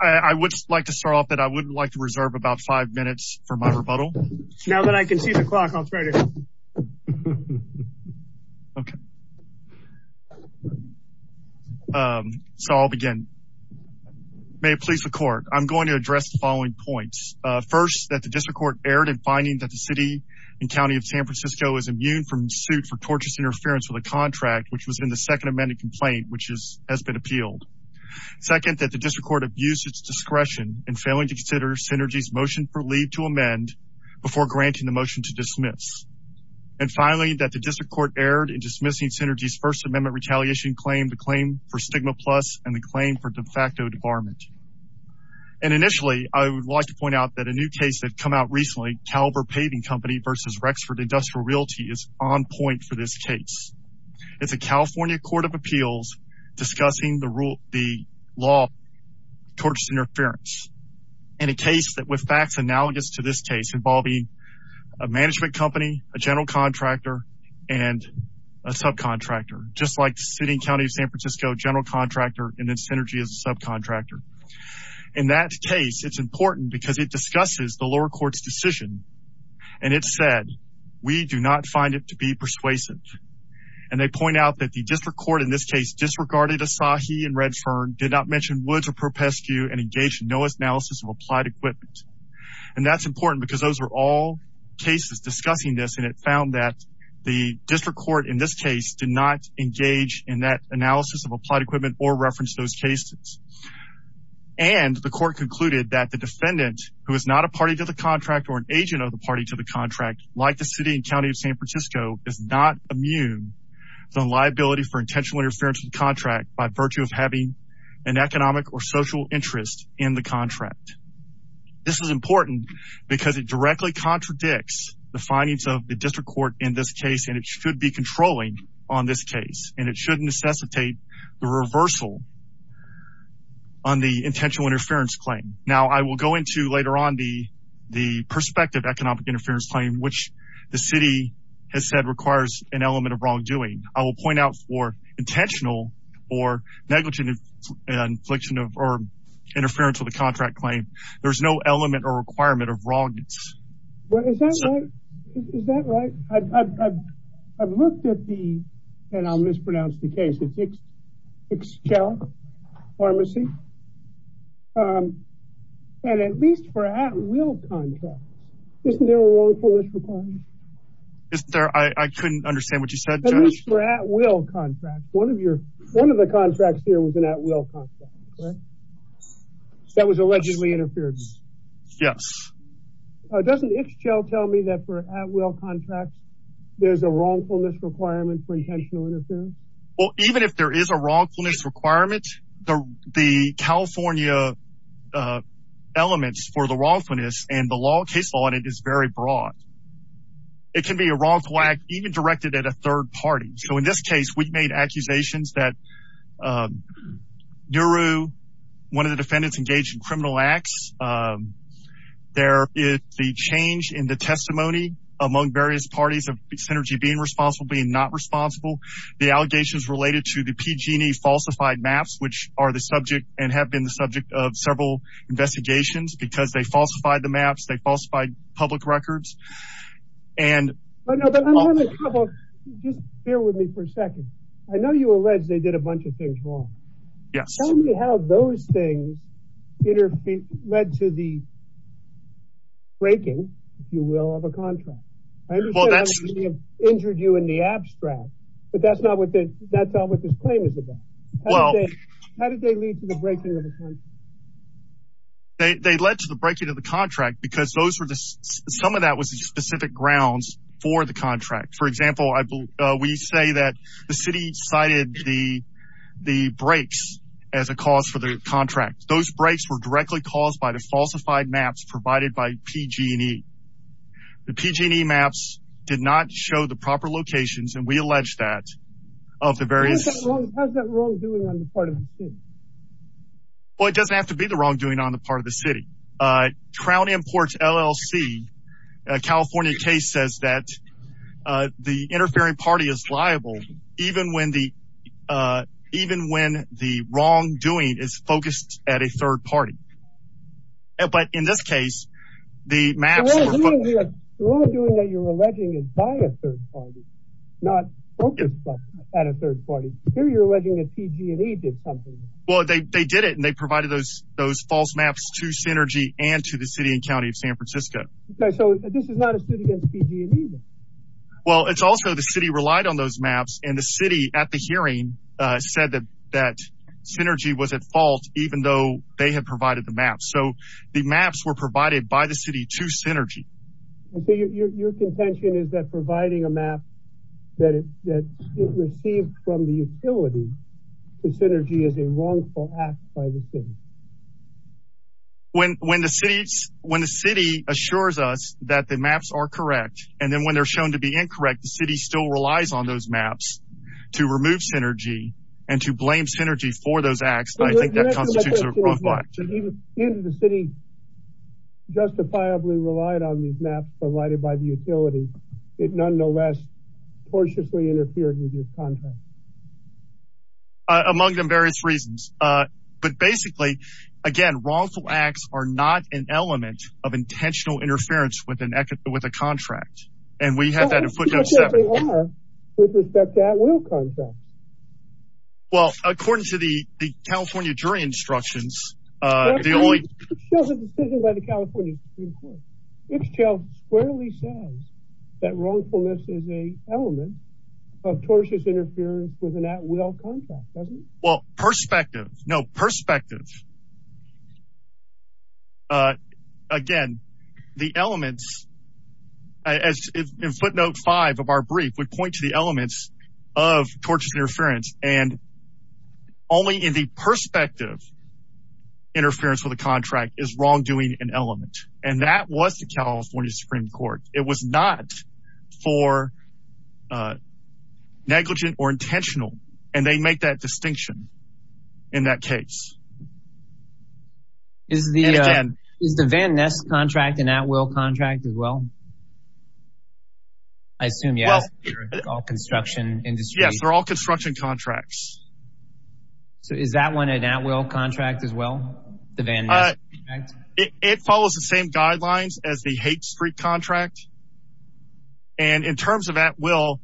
I would like to start off that I wouldn't like to reserve about five minutes for my rebuttal. Now that I can see the clock on Friday. Okay. So I'll begin. May it please the court, I'm going to address the following points. First, that the District Court erred in finding that the City and County of San Francisco is immune from suit for torturous interference with a contract, which was in the Second District Court abused its discretion in failing to consider Synergy's motion for leave to amend before granting the motion to dismiss. And finally, that the District Court erred in dismissing Synergy's First Amendment retaliation claim, the claim for stigma plus and the claim for de facto debarment. And initially, I would like to point out that a new case that come out recently, Caliber Paving Company versus Rexford Industrial Realty is on point for this case. It's a California Court of Appeals discussing the rule, the law, torturous interference in a case that with facts analogous to this case involving a management company, a general contractor, and a subcontractor, just like City & County of San Francisco, general contractor, and then Synergy as a subcontractor. In that case, it's important because it discusses the lower court's decision. And it said, we do not find it to be persuasive. And they point out that the District Court in this case disregarded Asahi and Redfern, did not mention Woods or Propescu, and engaged in no analysis of applied equipment. And that's important because those were all cases discussing this. And it found that the District Court in this case did not engage in that analysis of applied equipment or reference those cases. And the court concluded that the defendant who is not a party to the contract or an agent of the party to the contract, like the City & County of San Francisco, is not immune from liability for intentional interference with contract by virtue of having an economic or social interest in the contract. This is important because it directly contradicts the findings of the District Court in this case. And it should be controlling on this case. And it shouldn't necessitate the reversal on the intentional interference claim. Now, I will go into later on the perspective economic interference claim, which the City has said requires an element of wrongdoing. I will point out for intentional or negligent infliction of or interference with the contract claim, there's no element or requirement of wrongness. Is that right? I've looked at the, and I'll mispronounce the case, it's Excel Pharmacy. And at least for at-will contracts, isn't there a wrongfulness requirement? Isn't there? I couldn't understand what you said, Judge. At least for at-will contracts. One of your, one of the contracts here was an at-will contract, correct? That was allegedly interfered with. Yes. Doesn't Excel tell me that for at-will contracts, there's a wrongfulness requirement for intentional interference? Well, even if there is a wrongfulness requirement, the California elements for the wrongfulness and the law case audit is very broad. It can be a wrongful act even directed at a third party. So in this case, we've made accusations that Nehru, one of the defendants engaged in criminal acts, there is the change in the testimony among various parties of Synergy being responsible, being not responsible. The allegations related to the PG&E falsified maps, which are the subject and have been the subject of several investigations because they falsified the maps, they falsified public records. And just bear with me for a second. I know you allege they did a bunch of things wrong. Yes. Tell me how those things led to the breaking, if you will, of a contract. I understand how they injured you in the abstract, but that's not what this claim is about. How did they lead to the breaking of the contract? They led to the breaking of the contract because those were the, some of that was the specific grounds for the contract. For example, I believe we say that the city cited the breaks as a cause for the contract. Those breaks were directly caused by the falsified maps provided by PG&E. The PG&E maps did not show the proper locations, and we allege that of the various... How's that wrongdoing on the part of the city? Well, it doesn't have to be the wrongdoing on the part of the city. Crown Imports LLC, a California case, says that the interfering party is liable even when the wrongdoing is not. But in this case, the maps were... The wrongdoing that you're alleging is by a third party, not focused at a third party. Here you're alleging that PG&E did something. Well, they did it, and they provided those false maps to Synergy and to the City and County of San Francisco. Okay. So this is not a suit against PG&E? Well, it's also the city relied on those maps, and the city at the hearing said that Synergy was at fault even though they provided the maps. So the maps were provided by the city to Synergy. So your contention is that providing a map that it received from the utility to Synergy is a wrongful act by the city? When the city assures us that the maps are correct, and then when they're shown to be incorrect, the city still relies on those maps to remove Synergy and to blame Synergy for those wrongful acts. Even if the city justifiably relied on these maps provided by the utility, it nonetheless cautiously interfered with this contract. Among them various reasons. But basically, again, wrongful acts are not an element of intentional interference with a contract, and we have that in Put-Down 7. Well, that's not what they are with respect to at-will contracts. Well, according to the California jury instructions, Ipschel squarely says that wrongfulness is an element of tortious interference with an at-will contract, doesn't it? Well, perspective. No, perspective. Again, the elements, as in footnote 5 of our brief would point to the elements of tortious interference, and only in the perspective, interference with a contract is wrongdoing an element, and that was the California Supreme Court. It was not for negligent or intentional, and they make that distinction in that case. Is the Van Ness contract an at-will contract as well? I assume you're asking for the construction industry. Yes, they're all construction contracts. So is that one an at-will contract as well? It follows the same guidelines as the H Street contract, and in terms of at-will,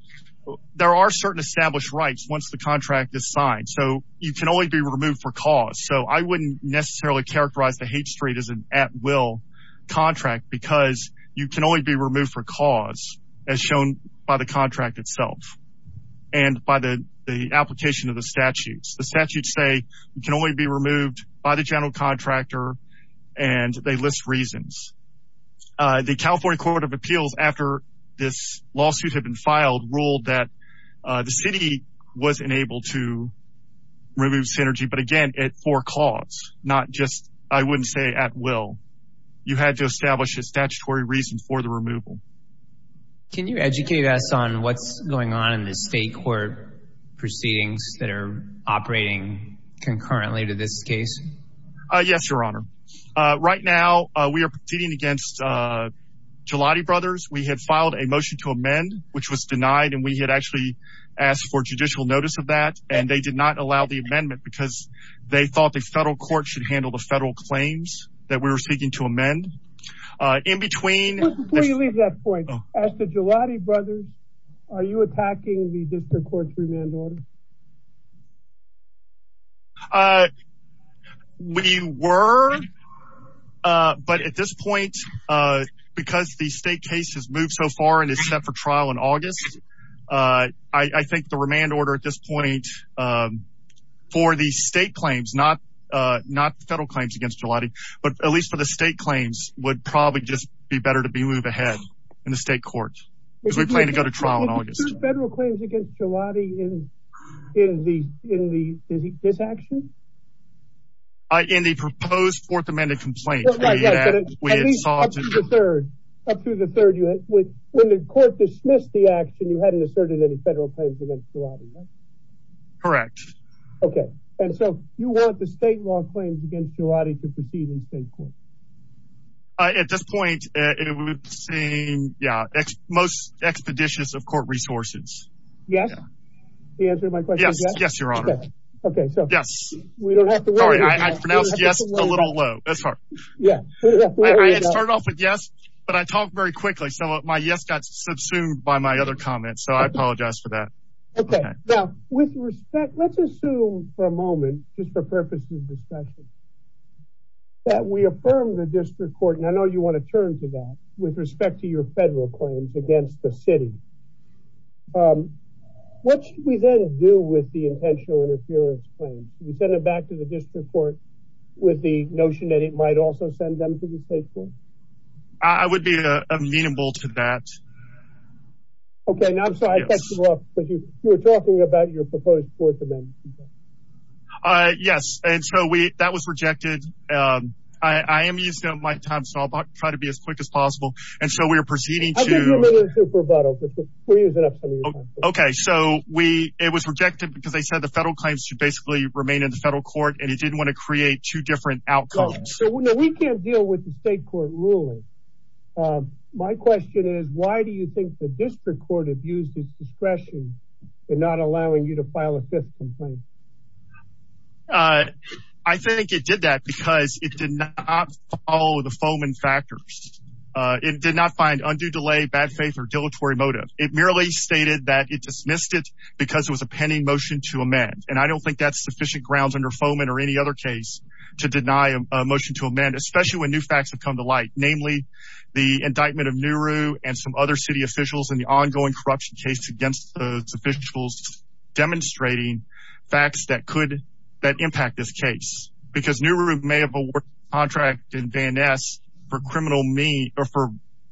there are certain established rights once the contract is signed, so you can only be removed for cause. So I wouldn't necessarily characterize the H Street as an at-will contract because you can only be removed for cause as shown by the contract itself and by the application of the statutes. The statutes say you can only be removed by the general contractor, and they list reasons. The California Court of Appeals, after this lawsuit had been filed, ruled that the city was unable to remove Synergy, but again, for cause, not just, I wouldn't say at-will. You had to establish a statutory reason for the removal. Can you educate us on what's going on in the state court proceedings that are operating concurrently to this case? Yes, Your Honor. Right now, we are proceeding against Jaladi Brothers. We had filed a motion to amend, which was denied, and we had actually asked for judicial notice of that, and they did not allow the amendment because they thought the federal court should handle the federal claims that we were seeking to amend. In between... Before you leave that point, as to Jaladi Brothers, are you attacking the district court's remand order? We were, but at this point, because the state case has moved so far and is set for trial in August, I think the remand order at this point, for the state claims, not the federal claims against Jaladi, but at least for the state claims, would probably just be better to be moved ahead in the state court, because we plan to go to trial in August. Were there federal claims against Jaladi in this action? In the proposed Fourth Amendment complaint. At least up through the third. When the court dismissed the action, you hadn't asserted any federal claims against Jaladi, right? Correct. Okay. And so you want the state law claims against Jaladi to proceed in state court? At this point, it would seem, yeah, most expeditious of court resources. Yes? The answer to my question is yes? Yes, Your Honor. Okay, so... Yes. Sorry, I pronounced yes a little low. I started off with yes, but I talked very quickly, so my yes got subsumed by my other comments, so I apologize for that. Okay. Now, with respect, let's assume for a moment, just for purposes of discussion, that we affirm the district court, and I know you want to turn to that, with respect to your federal claims against the city. What should we then do with the intentional interference claim? You send it back to the district court with the notion that it might also send them to the state court? I would be amenable to that. Okay, now I'm sorry, I cut you off, but you were talking about your proposed Fourth Amendment. Yes, and so that was rejected. I am using up my time, so I'll try to be as quick as possible, and so we are proceeding to... I'll give you a minute to rebuttal, because we're using up some of your time. Okay, so it was rejected because they said federal claims should basically remain in the federal court, and it didn't want to create two different outcomes. So we can't deal with the state court ruling. My question is, why do you think the district court abused its discretion in not allowing you to file a fifth complaint? I think it did that because it did not follow the FOMA factors. It did not find undue delay, bad faith, or dilatory motive. It merely stated that it dismissed it because it was a pending motion to amend, and I don't think that's sufficient grounds under FOMA or any other case to deny a motion to amend, especially when new facts have come to light, namely the indictment of Nehru and some other city officials and the ongoing corruption case against those officials demonstrating facts that impact this case, because Nehru may have awarded a contract in Van Ness for criminal...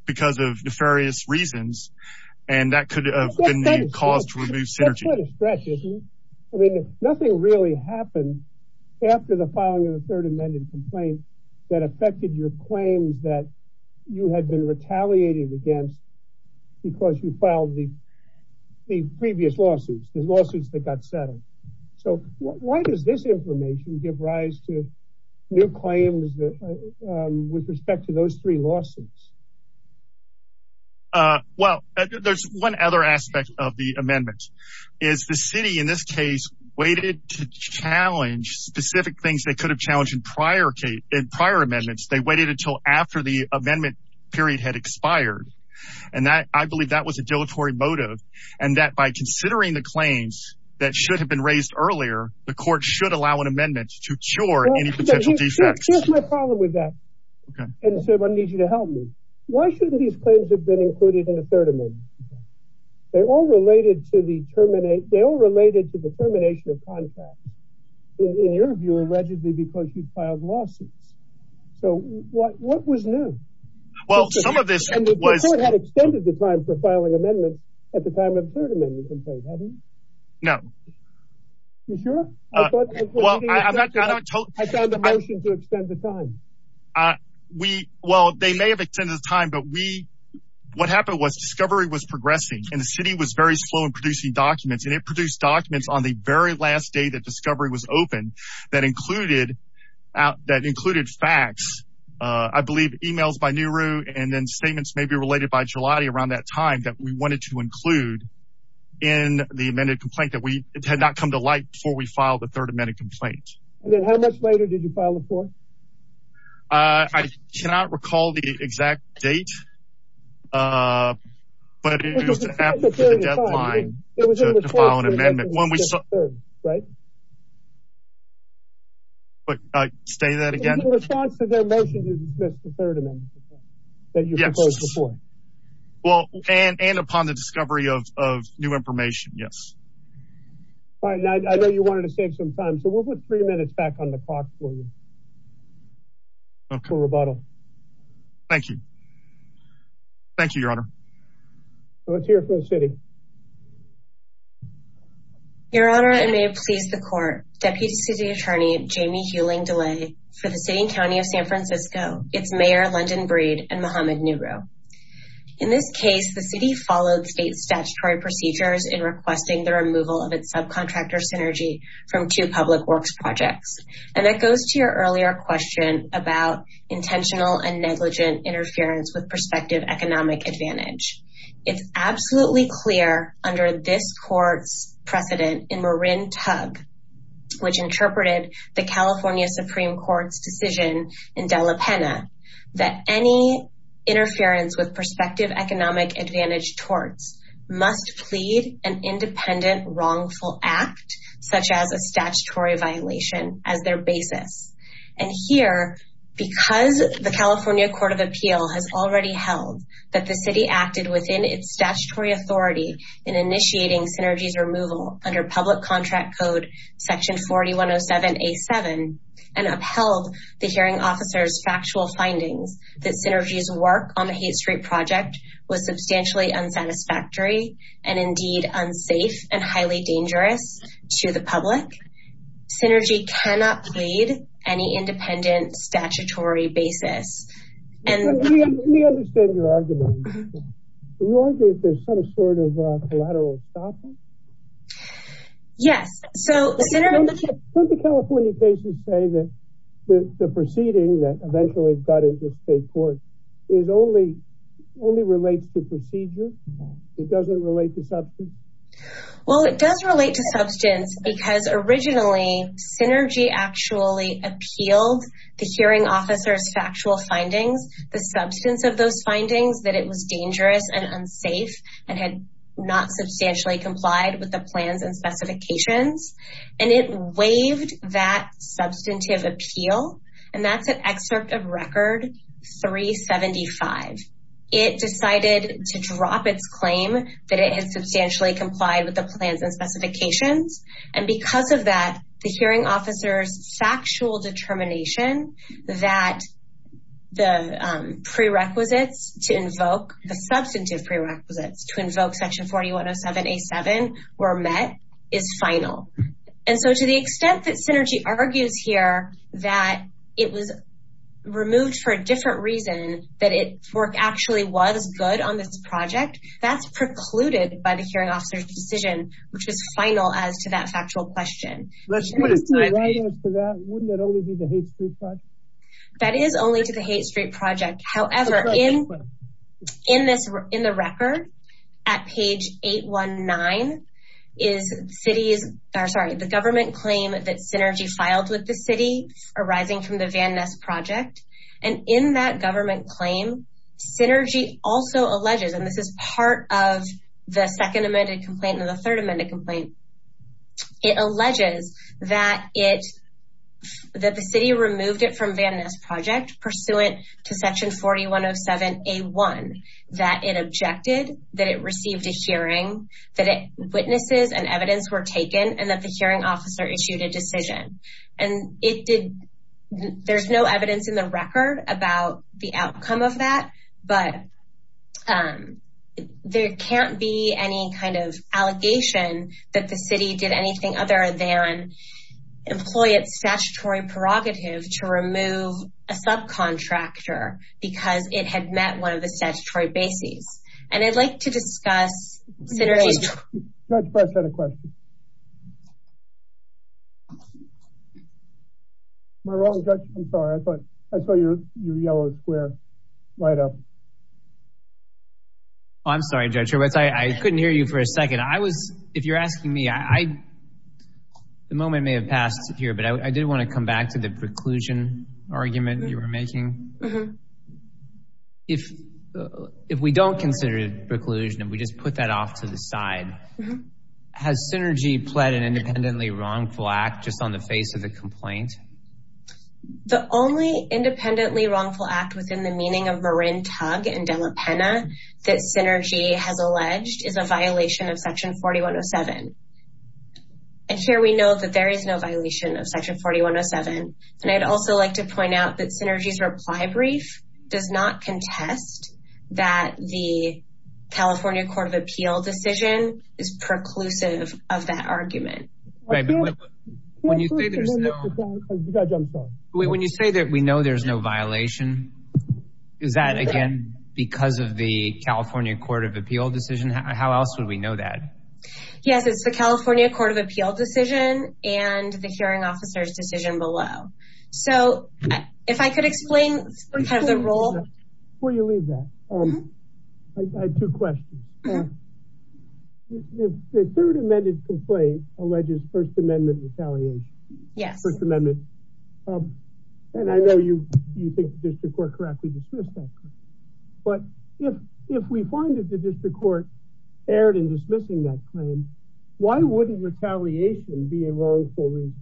because of nefarious reasons, and that could have been the cause to remove Synergy. That's quite a stretch, isn't it? I mean, nothing really happened after the filing of the third amended complaint that affected your claims that you had been retaliating against because you filed the previous lawsuits, the lawsuits that got settled. So why does this information give rise to new claims with respect to those three lawsuits? Well, there's one other aspect of the amendment, is the city in this case waited to challenge specific things they could have challenged in prior amendments. They waited until after the amendment period had expired, and I believe that was a dilatory motive, and that by considering the claims that should have been raised earlier, the court should allow an amendment to cure any Why shouldn't these claims have been included in the third amendment? They're all related to the terminate... they all related to the termination of contract, in your view, allegedly because you filed lawsuits. So what was new? Well, some of this was... The court had extended the time for filing amendments at the time of the third amendment, in fact, hadn't it? No. You sure? Well, I'm not... I found the motion to extend the time. I... we... well, they may have extended the time, but we... what happened was, discovery was progressing, and the city was very slow in producing documents, and it produced documents on the very last day that discovery was open that included... that included facts, I believe emails by Nehru, and then statements maybe related by Giuliani around that time that we wanted to include in the amended complaint that we... it had not come to light before we filed the third amended complaint. And then how much later did you file the fourth? I cannot recall the exact date, but it was after the deadline to file an amendment. It was in response to the third amendment, right? But I... say that again? It was in response to their motion to dismiss the third amendment that you proposed before. Well, and upon the discovery of new information, yes. Fine. I know you wanted to save some time, so we'll put three minutes back on the clock for you. Cool rebuttal. Thank you. Thank you, Your Honor. So let's hear it for the city. Your Honor, and may it please the court, Deputy City Attorney Jamie Hewling DeLay for the City and County of San Francisco. It's Mayor London Breed and Muhammad Nehru. In this case, the city followed state statutory procedures in requesting the removal of its subcontractor synergy from two public works projects, and that goes to your earlier question about intentional and negligent interference with prospective economic advantage. It's absolutely clear under this court's precedent in Marin Tug, which interpreted the California Supreme Court's decision in Dela Pena, that any interference with prospective economic advantage torts must plead an independent wrongful act, such as a statutory violation, as their basis. And here, because the California Court of Appeal has already held that the city acted within its statutory authority in initiating Synergy's removal under public contract code section 4107A7 and upheld the hearing officer's factual findings that Synergy's work on the Haight Street project was substantially unsatisfactory and indeed unsafe and highly dangerous to the public, Synergy cannot plead any independent statutory basis. Let me understand your argument. You argue that there's some sort of collateral stopping? Yes, so... Don't the California cases say that the proceeding that eventually got into state court only relates to procedure? It doesn't relate to substance? Well, it does relate to substance because originally Synergy actually appealed the hearing officer's factual findings, the substance of those findings, that it was dangerous and unsafe and had not substantially complied with the plans and specifications. And it waived that substantive appeal, and that's an excerpt of Record 375. It decided to drop its claim that it substantially complied with the plans and specifications. And because of that, the hearing officer's factual determination that the prerequisites to invoke, the substantive prerequisites to invoke section 4107A7 were met is final. And so to the extent that Synergy argues here that it was removed for a different reason, that its work actually was good on this project, that's precluded by the hearing officer's decision, which was final as to that factual question. Wouldn't that only be the Haight Street Project? That is only to the Haight Street Project. However, in the record at page 819 is the government claim that Synergy filed with the city arising from the Van Ness Project. And in that government claim, Synergy also alleges, and this is part of the second amended complaint and the third amended complaint, it alleges that the city removed it from Van Ness Project pursuant to section 4107A1, that it objected, that it received a hearing, that witnesses and evidence were taken, and that the hearing officer issued a decision. And there's no evidence in the record about the outcome of that, but there can't be any kind of allegation that the city did anything other than employ its statutory prerogative to remove a subcontractor because it had met one of the statutory bases. And I'd like to discuss Synergy's... Judge Press had a question. Am I wrong, Judge? I'm sorry. I saw your yellow square light up. I'm sorry, Judge Hurwitz. I couldn't hear you for a second. If you're asking me, the moment may have passed here, but I did want to come back to the preclusion argument you were making. If we don't consider it preclusion, if we just put that off to the side, has Synergy pled an independently wrongful act just on the face of the complaint? The only independently wrongful act within the meaning of Marin Tug and Dela Pena that Synergy has alleged is a violation of section 4107. And here we know that there is no violation of section 4107. And I'd also like to point out that Synergy's reply brief does not contest that the California Court of Appeal decision is preclusive of that argument. When you say that we know there's no violation, is that, again, because of the California Court of Appeal decision? How else would we know that? Yes, it's the California Court of Appeal decision and the hearing officer's decision below. So, if I could explain the role. Before you leave that, I have two questions. The third amended complaint alleges First Amendment retaliation. Yes. First Amendment. And I know you think the district court correctly dismissed that claim. But if we find that the district court erred in dismissing that claim, why wouldn't retaliation be a wrongful reason?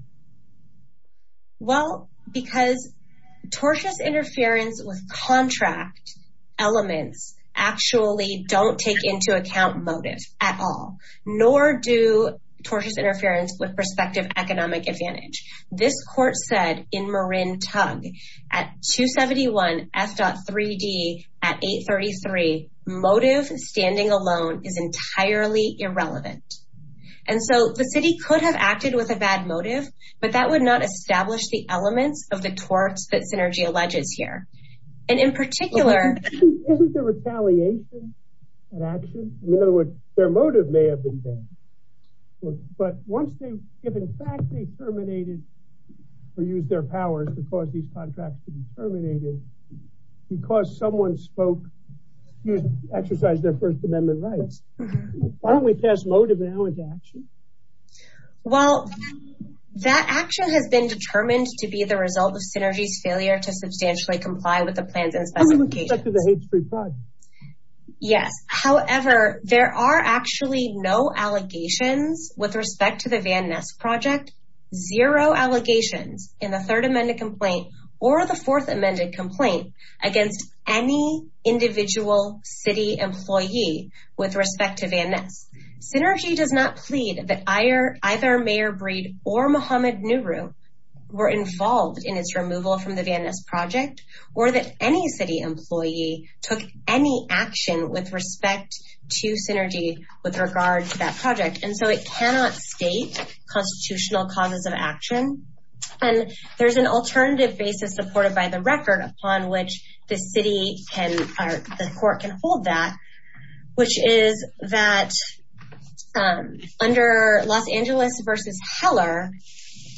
Well, because tortious interference with contract elements actually don't take into account motive at all, nor do tortious interference with prospective economic advantage. This court said in Marin Tug at 271 F.3D at 833, motive standing alone is entirely irrelevant. And so, the city could have acted with a bad motive, but that would not establish the elements of the torts that Synergy alleges here. And in particular... Isn't the retaliation an action? In other words, their motive may have been bad. But once they, if in fact they terminated or used their powers to cause these contracts to be terminated, because someone spoke, you exercise their First Amendment rights. Why don't we pass motive now into action? Well, that action has been determined to be the result of Synergy's failure to substantially comply with the plans and specifications. Yes. However, there are actually no allegations with respect to the Van Ness Project, zero allegations in the third amended complaint or the fourth amended complaint against any individual city employee with respect to Van Ness. Synergy does not plead that either Mayor Breed or Muhammad Nuru were involved in its removal from the Van Ness Project or that any city employee took any action with respect to Synergy with regard to that project. And so, it cannot state constitutional causes of action. And there's an alternative basis supported by the record upon which the court can hold that, which is that under Los Angeles v. Heller,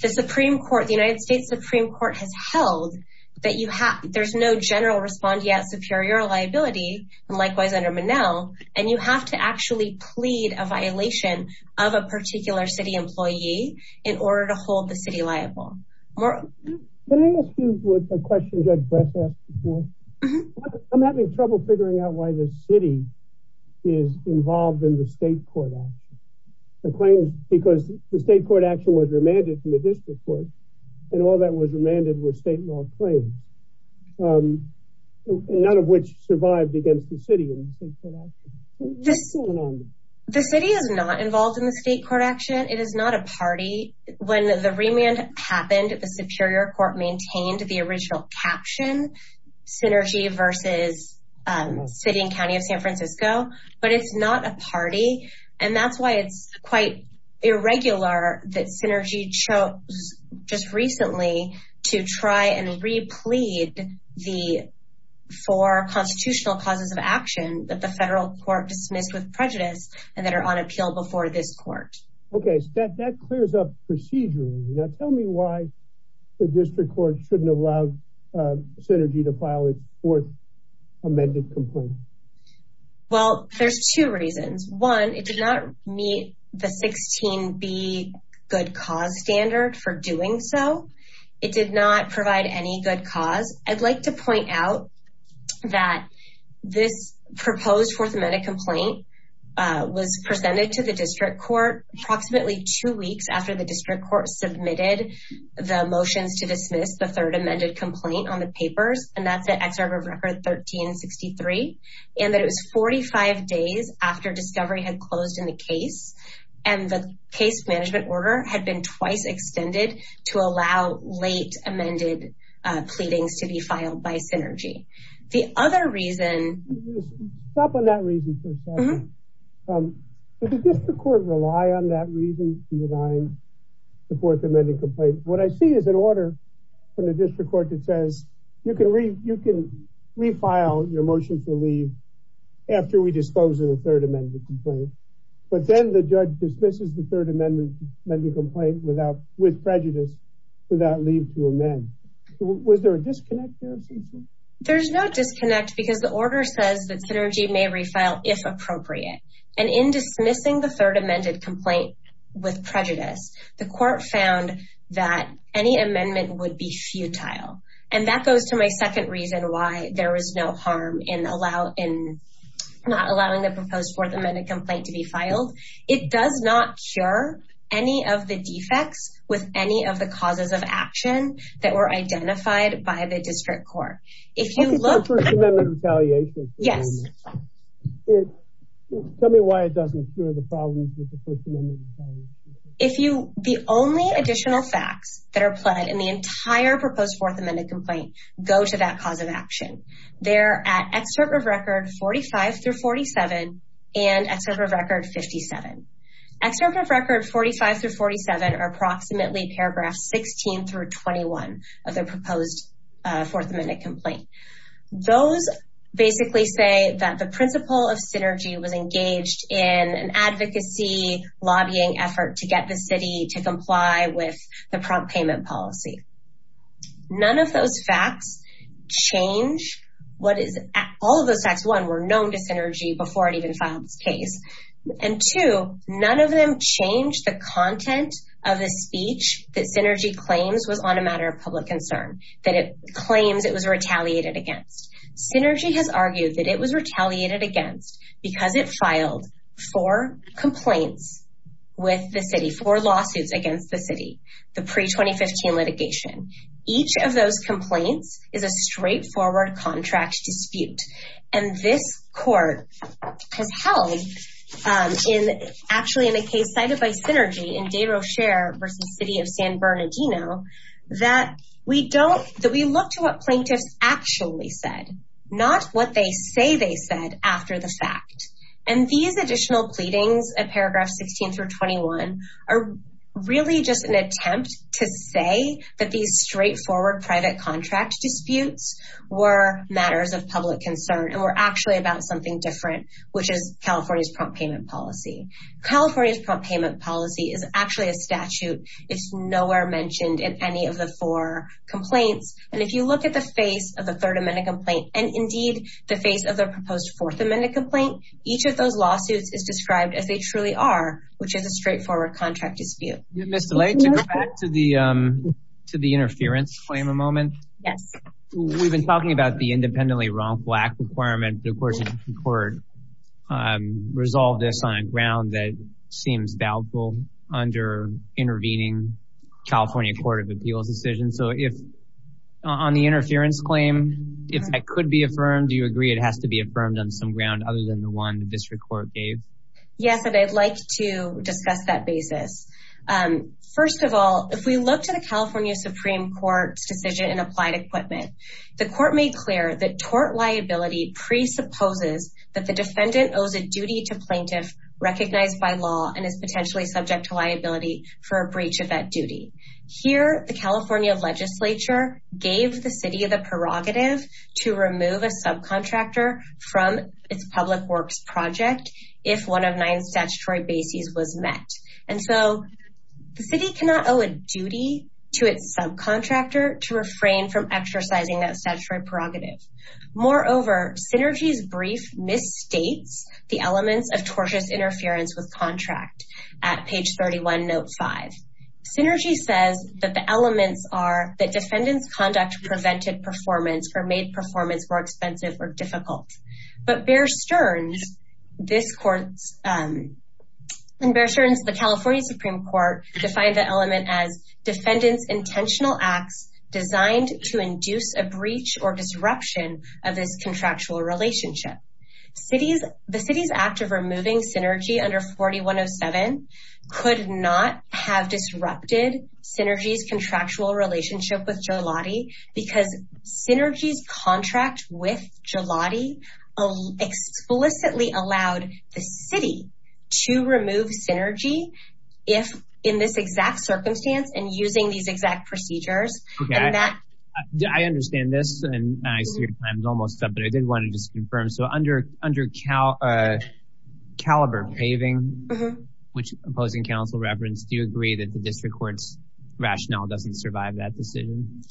the Supreme Court, the United States Supreme Court has held that there's no general respondeat superior liability, and likewise under Monell, and you have to actually plead a violation of a particular city employee in order to hold the city liable. Can I ask you a question Judge Bress asked before? I'm having trouble figuring out why the city is involved in the state court action, because the state court action was remanded from the district court, and all that was remanded was state law claims, none of which survived against the city. The city is not involved in the state court action. It is not a party. When the remand happened, the Superior Court maintained the original caption, Synergy v. City and County of San Francisco, but it's not a party, and that's why it's quite irregular that Synergy chose just recently to try and replead the four constitutional causes of action that the federal court dismissed with prejudice and that are on appeal before this court. Okay, that clears up procedurally. Now tell me why the district court shouldn't allow Synergy to file a fourth amended complaint. Well, there's two reasons. One, it did not meet the 16b good cause standard for doing so. It did not provide any good cause. I'd like to point out that this was approximately two weeks after the district court submitted the motions to dismiss the third amended complaint on the papers, and that's at Excerpt of Record 1363, and that it was 45 days after discovery had closed in the case, and the case management order had been twice extended to allow late amended pleadings to be filed by Synergy. The other reason... That reason is to deny the fourth amended complaint. What I see is an order from the district court that says you can refile your motion for leave after we dispose of the third amended complaint, but then the judge dismisses the third amended complaint with prejudice without leave to amend. Was there a disconnect there, Cece? There's no disconnect because the prejudice, the court found that any amendment would be futile, and that goes to my second reason why there was no harm in not allowing the proposed fourth amended complaint to be filed. It does not cure any of the defects with any of the causes of action that were identified by the district court. If you look at the first amendment retaliation... Yes. Tell me why it doesn't cure the problems with the first amendment retaliation. If you... The only additional facts that are pled in the entire proposed fourth amended complaint go to that cause of action. They're at Excerpt of Record 45 through 47 and Excerpt of Record 57. Excerpt of Record 45 through 47 are approximately paragraphs 16 through 21 of the proposed fourth amended complaint. Those basically say that the principle of synergy was engaged in an advocacy lobbying effort to get the city to comply with the prompt payment policy. None of those facts change what is... All of those facts, one, were known to Synergy before it even filed its case, and two, none of them changed the content of the speech that Synergy claims was on a matter of public concern, that it claims it was retaliated against. Synergy has argued that it was retaliated against because it filed four complaints with the city, four lawsuits against the city, the pre-2015 litigation. Each of those complaints is a straightforward contract dispute, and this court has held, actually in a case cited by Synergy in De Rocher versus City of San Bernardino, that we look to what plaintiffs actually said, not what they say they said after the fact. And these additional pleadings at paragraph 16 through 21 are really just an attempt to say that these straightforward private contract disputes were matters of public concern, and were actually about something different, which is California's prompt payment policy. California's prompt payment policy is actually a statute. It's nowhere mentioned in any of the four complaints. And if you look at the face of the Third Amendment complaint, and indeed the face of the proposed Fourth Amendment complaint, each of those lawsuits is described as they truly are, which is a straightforward contract dispute. Ms. DeLay, to go back to the black requirement, the Supreme Court resolved this on a ground that seems doubtful under intervening California Court of Appeals decision. So if on the interference claim, if that could be affirmed, do you agree it has to be affirmed on some ground other than the one the district court gave? Yes, and I'd like to discuss that basis. First of all, if we look to California Supreme Court's decision in applied equipment, the court made clear that tort liability presupposes that the defendant owes a duty to plaintiff recognized by law and is potentially subject to liability for a breach of that duty. Here, the California legislature gave the city the prerogative to remove a subcontractor from its public works project if one of nine statutory bases was met. And so the city cannot owe a duty to its subcontractor to refrain from exercising that statutory prerogative. Moreover, Synergy's brief misstates the elements of tortious interference with contract at page 31, note 5. Synergy says that the elements are that defendant's conduct prevented performance or made performance more expensive or difficult. But Bear Stearns, this court's, in Bear Stearns, the California Supreme Court defined the element as defendant's intentional acts designed to induce a breach or disruption of this contractual relationship. The city's act of removing Synergy under 4107 could not have disrupted Synergy's contractual relationship with Joloti because Synergy's contract with Joloti explicitly allowed the city to remove Synergy if in this exact circumstance and using these exact procedures. I understand this and I see your time is almost up, but I did want to just confirm. So under Caliber paving, which opposing counsel referenced, do you agree that the district court's decision?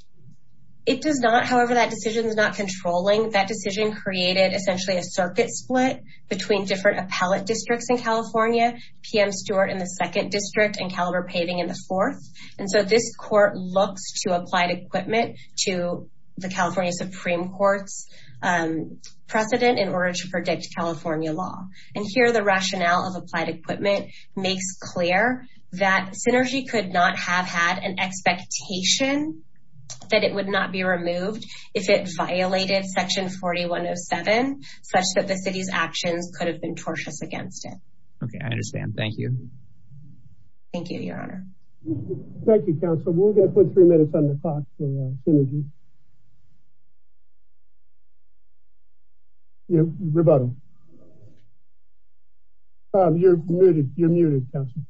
It does not. However, that decision is not controlling. That decision created essentially a circuit split between different appellate districts in California, P.M. Stewart in the second district and Caliber paving in the fourth. And so this court looks to applied equipment to the California Supreme Court's precedent in order to predict California law. And here the rationale of applied equipment makes clear that Synergy could not have had an expectation that it would not be removed if it violated section 4107 such that the city's actions could have been tortious against it. Okay, I understand. Thank you. Thank you, your honor. Thank you, counsel. We're going You're muted. You're muted, counsel.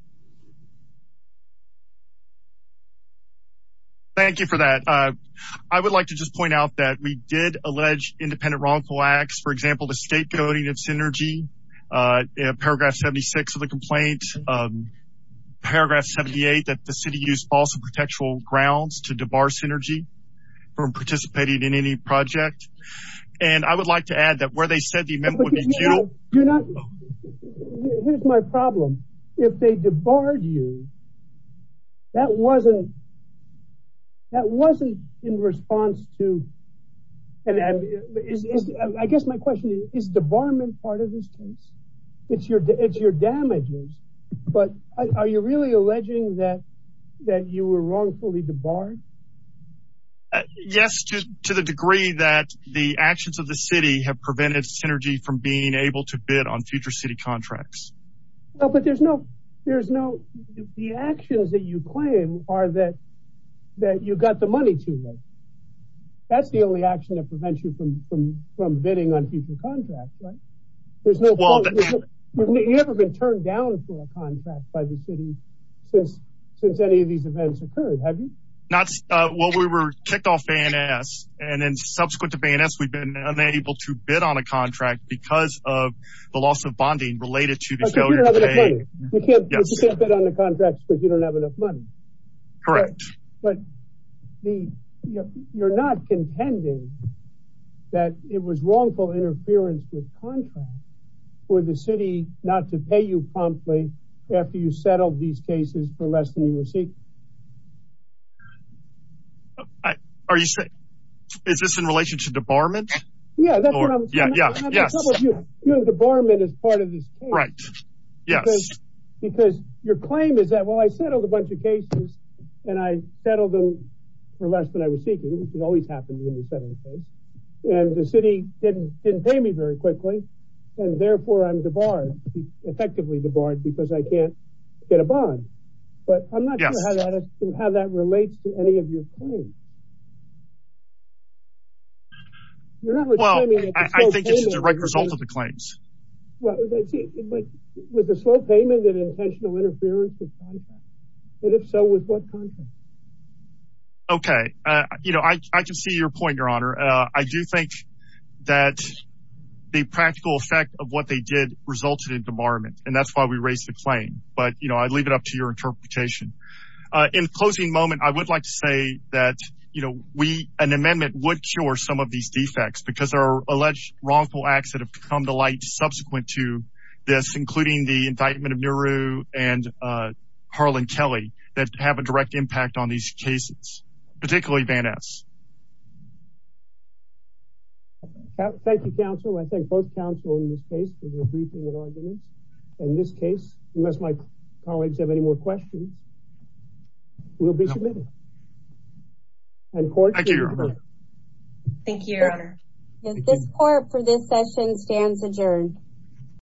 Thank you for that. I would like to just point out that we did allege independent wrongful acts, for example, the state coding of Synergy, paragraph 76 of the complaint, paragraph 78 that the city used false and contextual grounds to debar Synergy from participating in any project. And I would like to add that where they said the amendment do not, here's my problem. If they debarred you, that wasn't in response to, I guess my question is, is debarment part of this case? It's your damages. But are you really alleging that you were wrongfully debarred? Yes, to the degree that the actions of the city have prevented Synergy from being able to bid on future city contracts. No, but there's no, there's no, the actions that you claim are that you got the money too late. That's the only action that prevents you from bidding on future contracts, right? You've never been turned down for a contract by the city since any of these events occurred, have you? Well, we were kicked off A&S. And then subsequent to A&S, we've been unable to because of the loss of bonding related to the failure to pay. You can't bid on the contracts because you don't have enough money. Correct. But you're not contending that it was wrongful interference with contracts for the city not to pay you promptly after you settled these cases for less than you were seeking. Are you saying, is this in relation to debarment? Yeah, that's what I'm saying. Debarment is part of this case. Right. Yes. Because your claim is that well, I settled a bunch of cases, and I settled them for less than I was seeking, which has always happened when you settle a case. And the city didn't pay me very quickly. And therefore I'm debarred, effectively debarred because I can't get a bond. But I'm not sure how that relates to any of your claims. Well, I think it's a direct result of the claims. Well, with a slow payment and intentional interference with contracts. And if so, with what contract? Okay. You know, I can see your point, Your Honor. I do think that the practical effect of what they did resulted in debarment. And that's why we raised the claim. But, you know, I'd leave it up to your interpretation. In closing moment, I would like to say that, you know, we, an amendment would cure some of these defects because our alleged wrongful acts that have come to light subsequent to this, including the indictment of Nehru and Harlan Kelly, that have a direct impact on these cases, particularly Van Ness. Thank you, counsel. I thank both counsel in this case for your briefing and arguments. In this case, unless my colleagues have any more questions, we'll be submitting. Thank you, Your Honor. Thank you, Your Honor. This court for this session stands adjourned.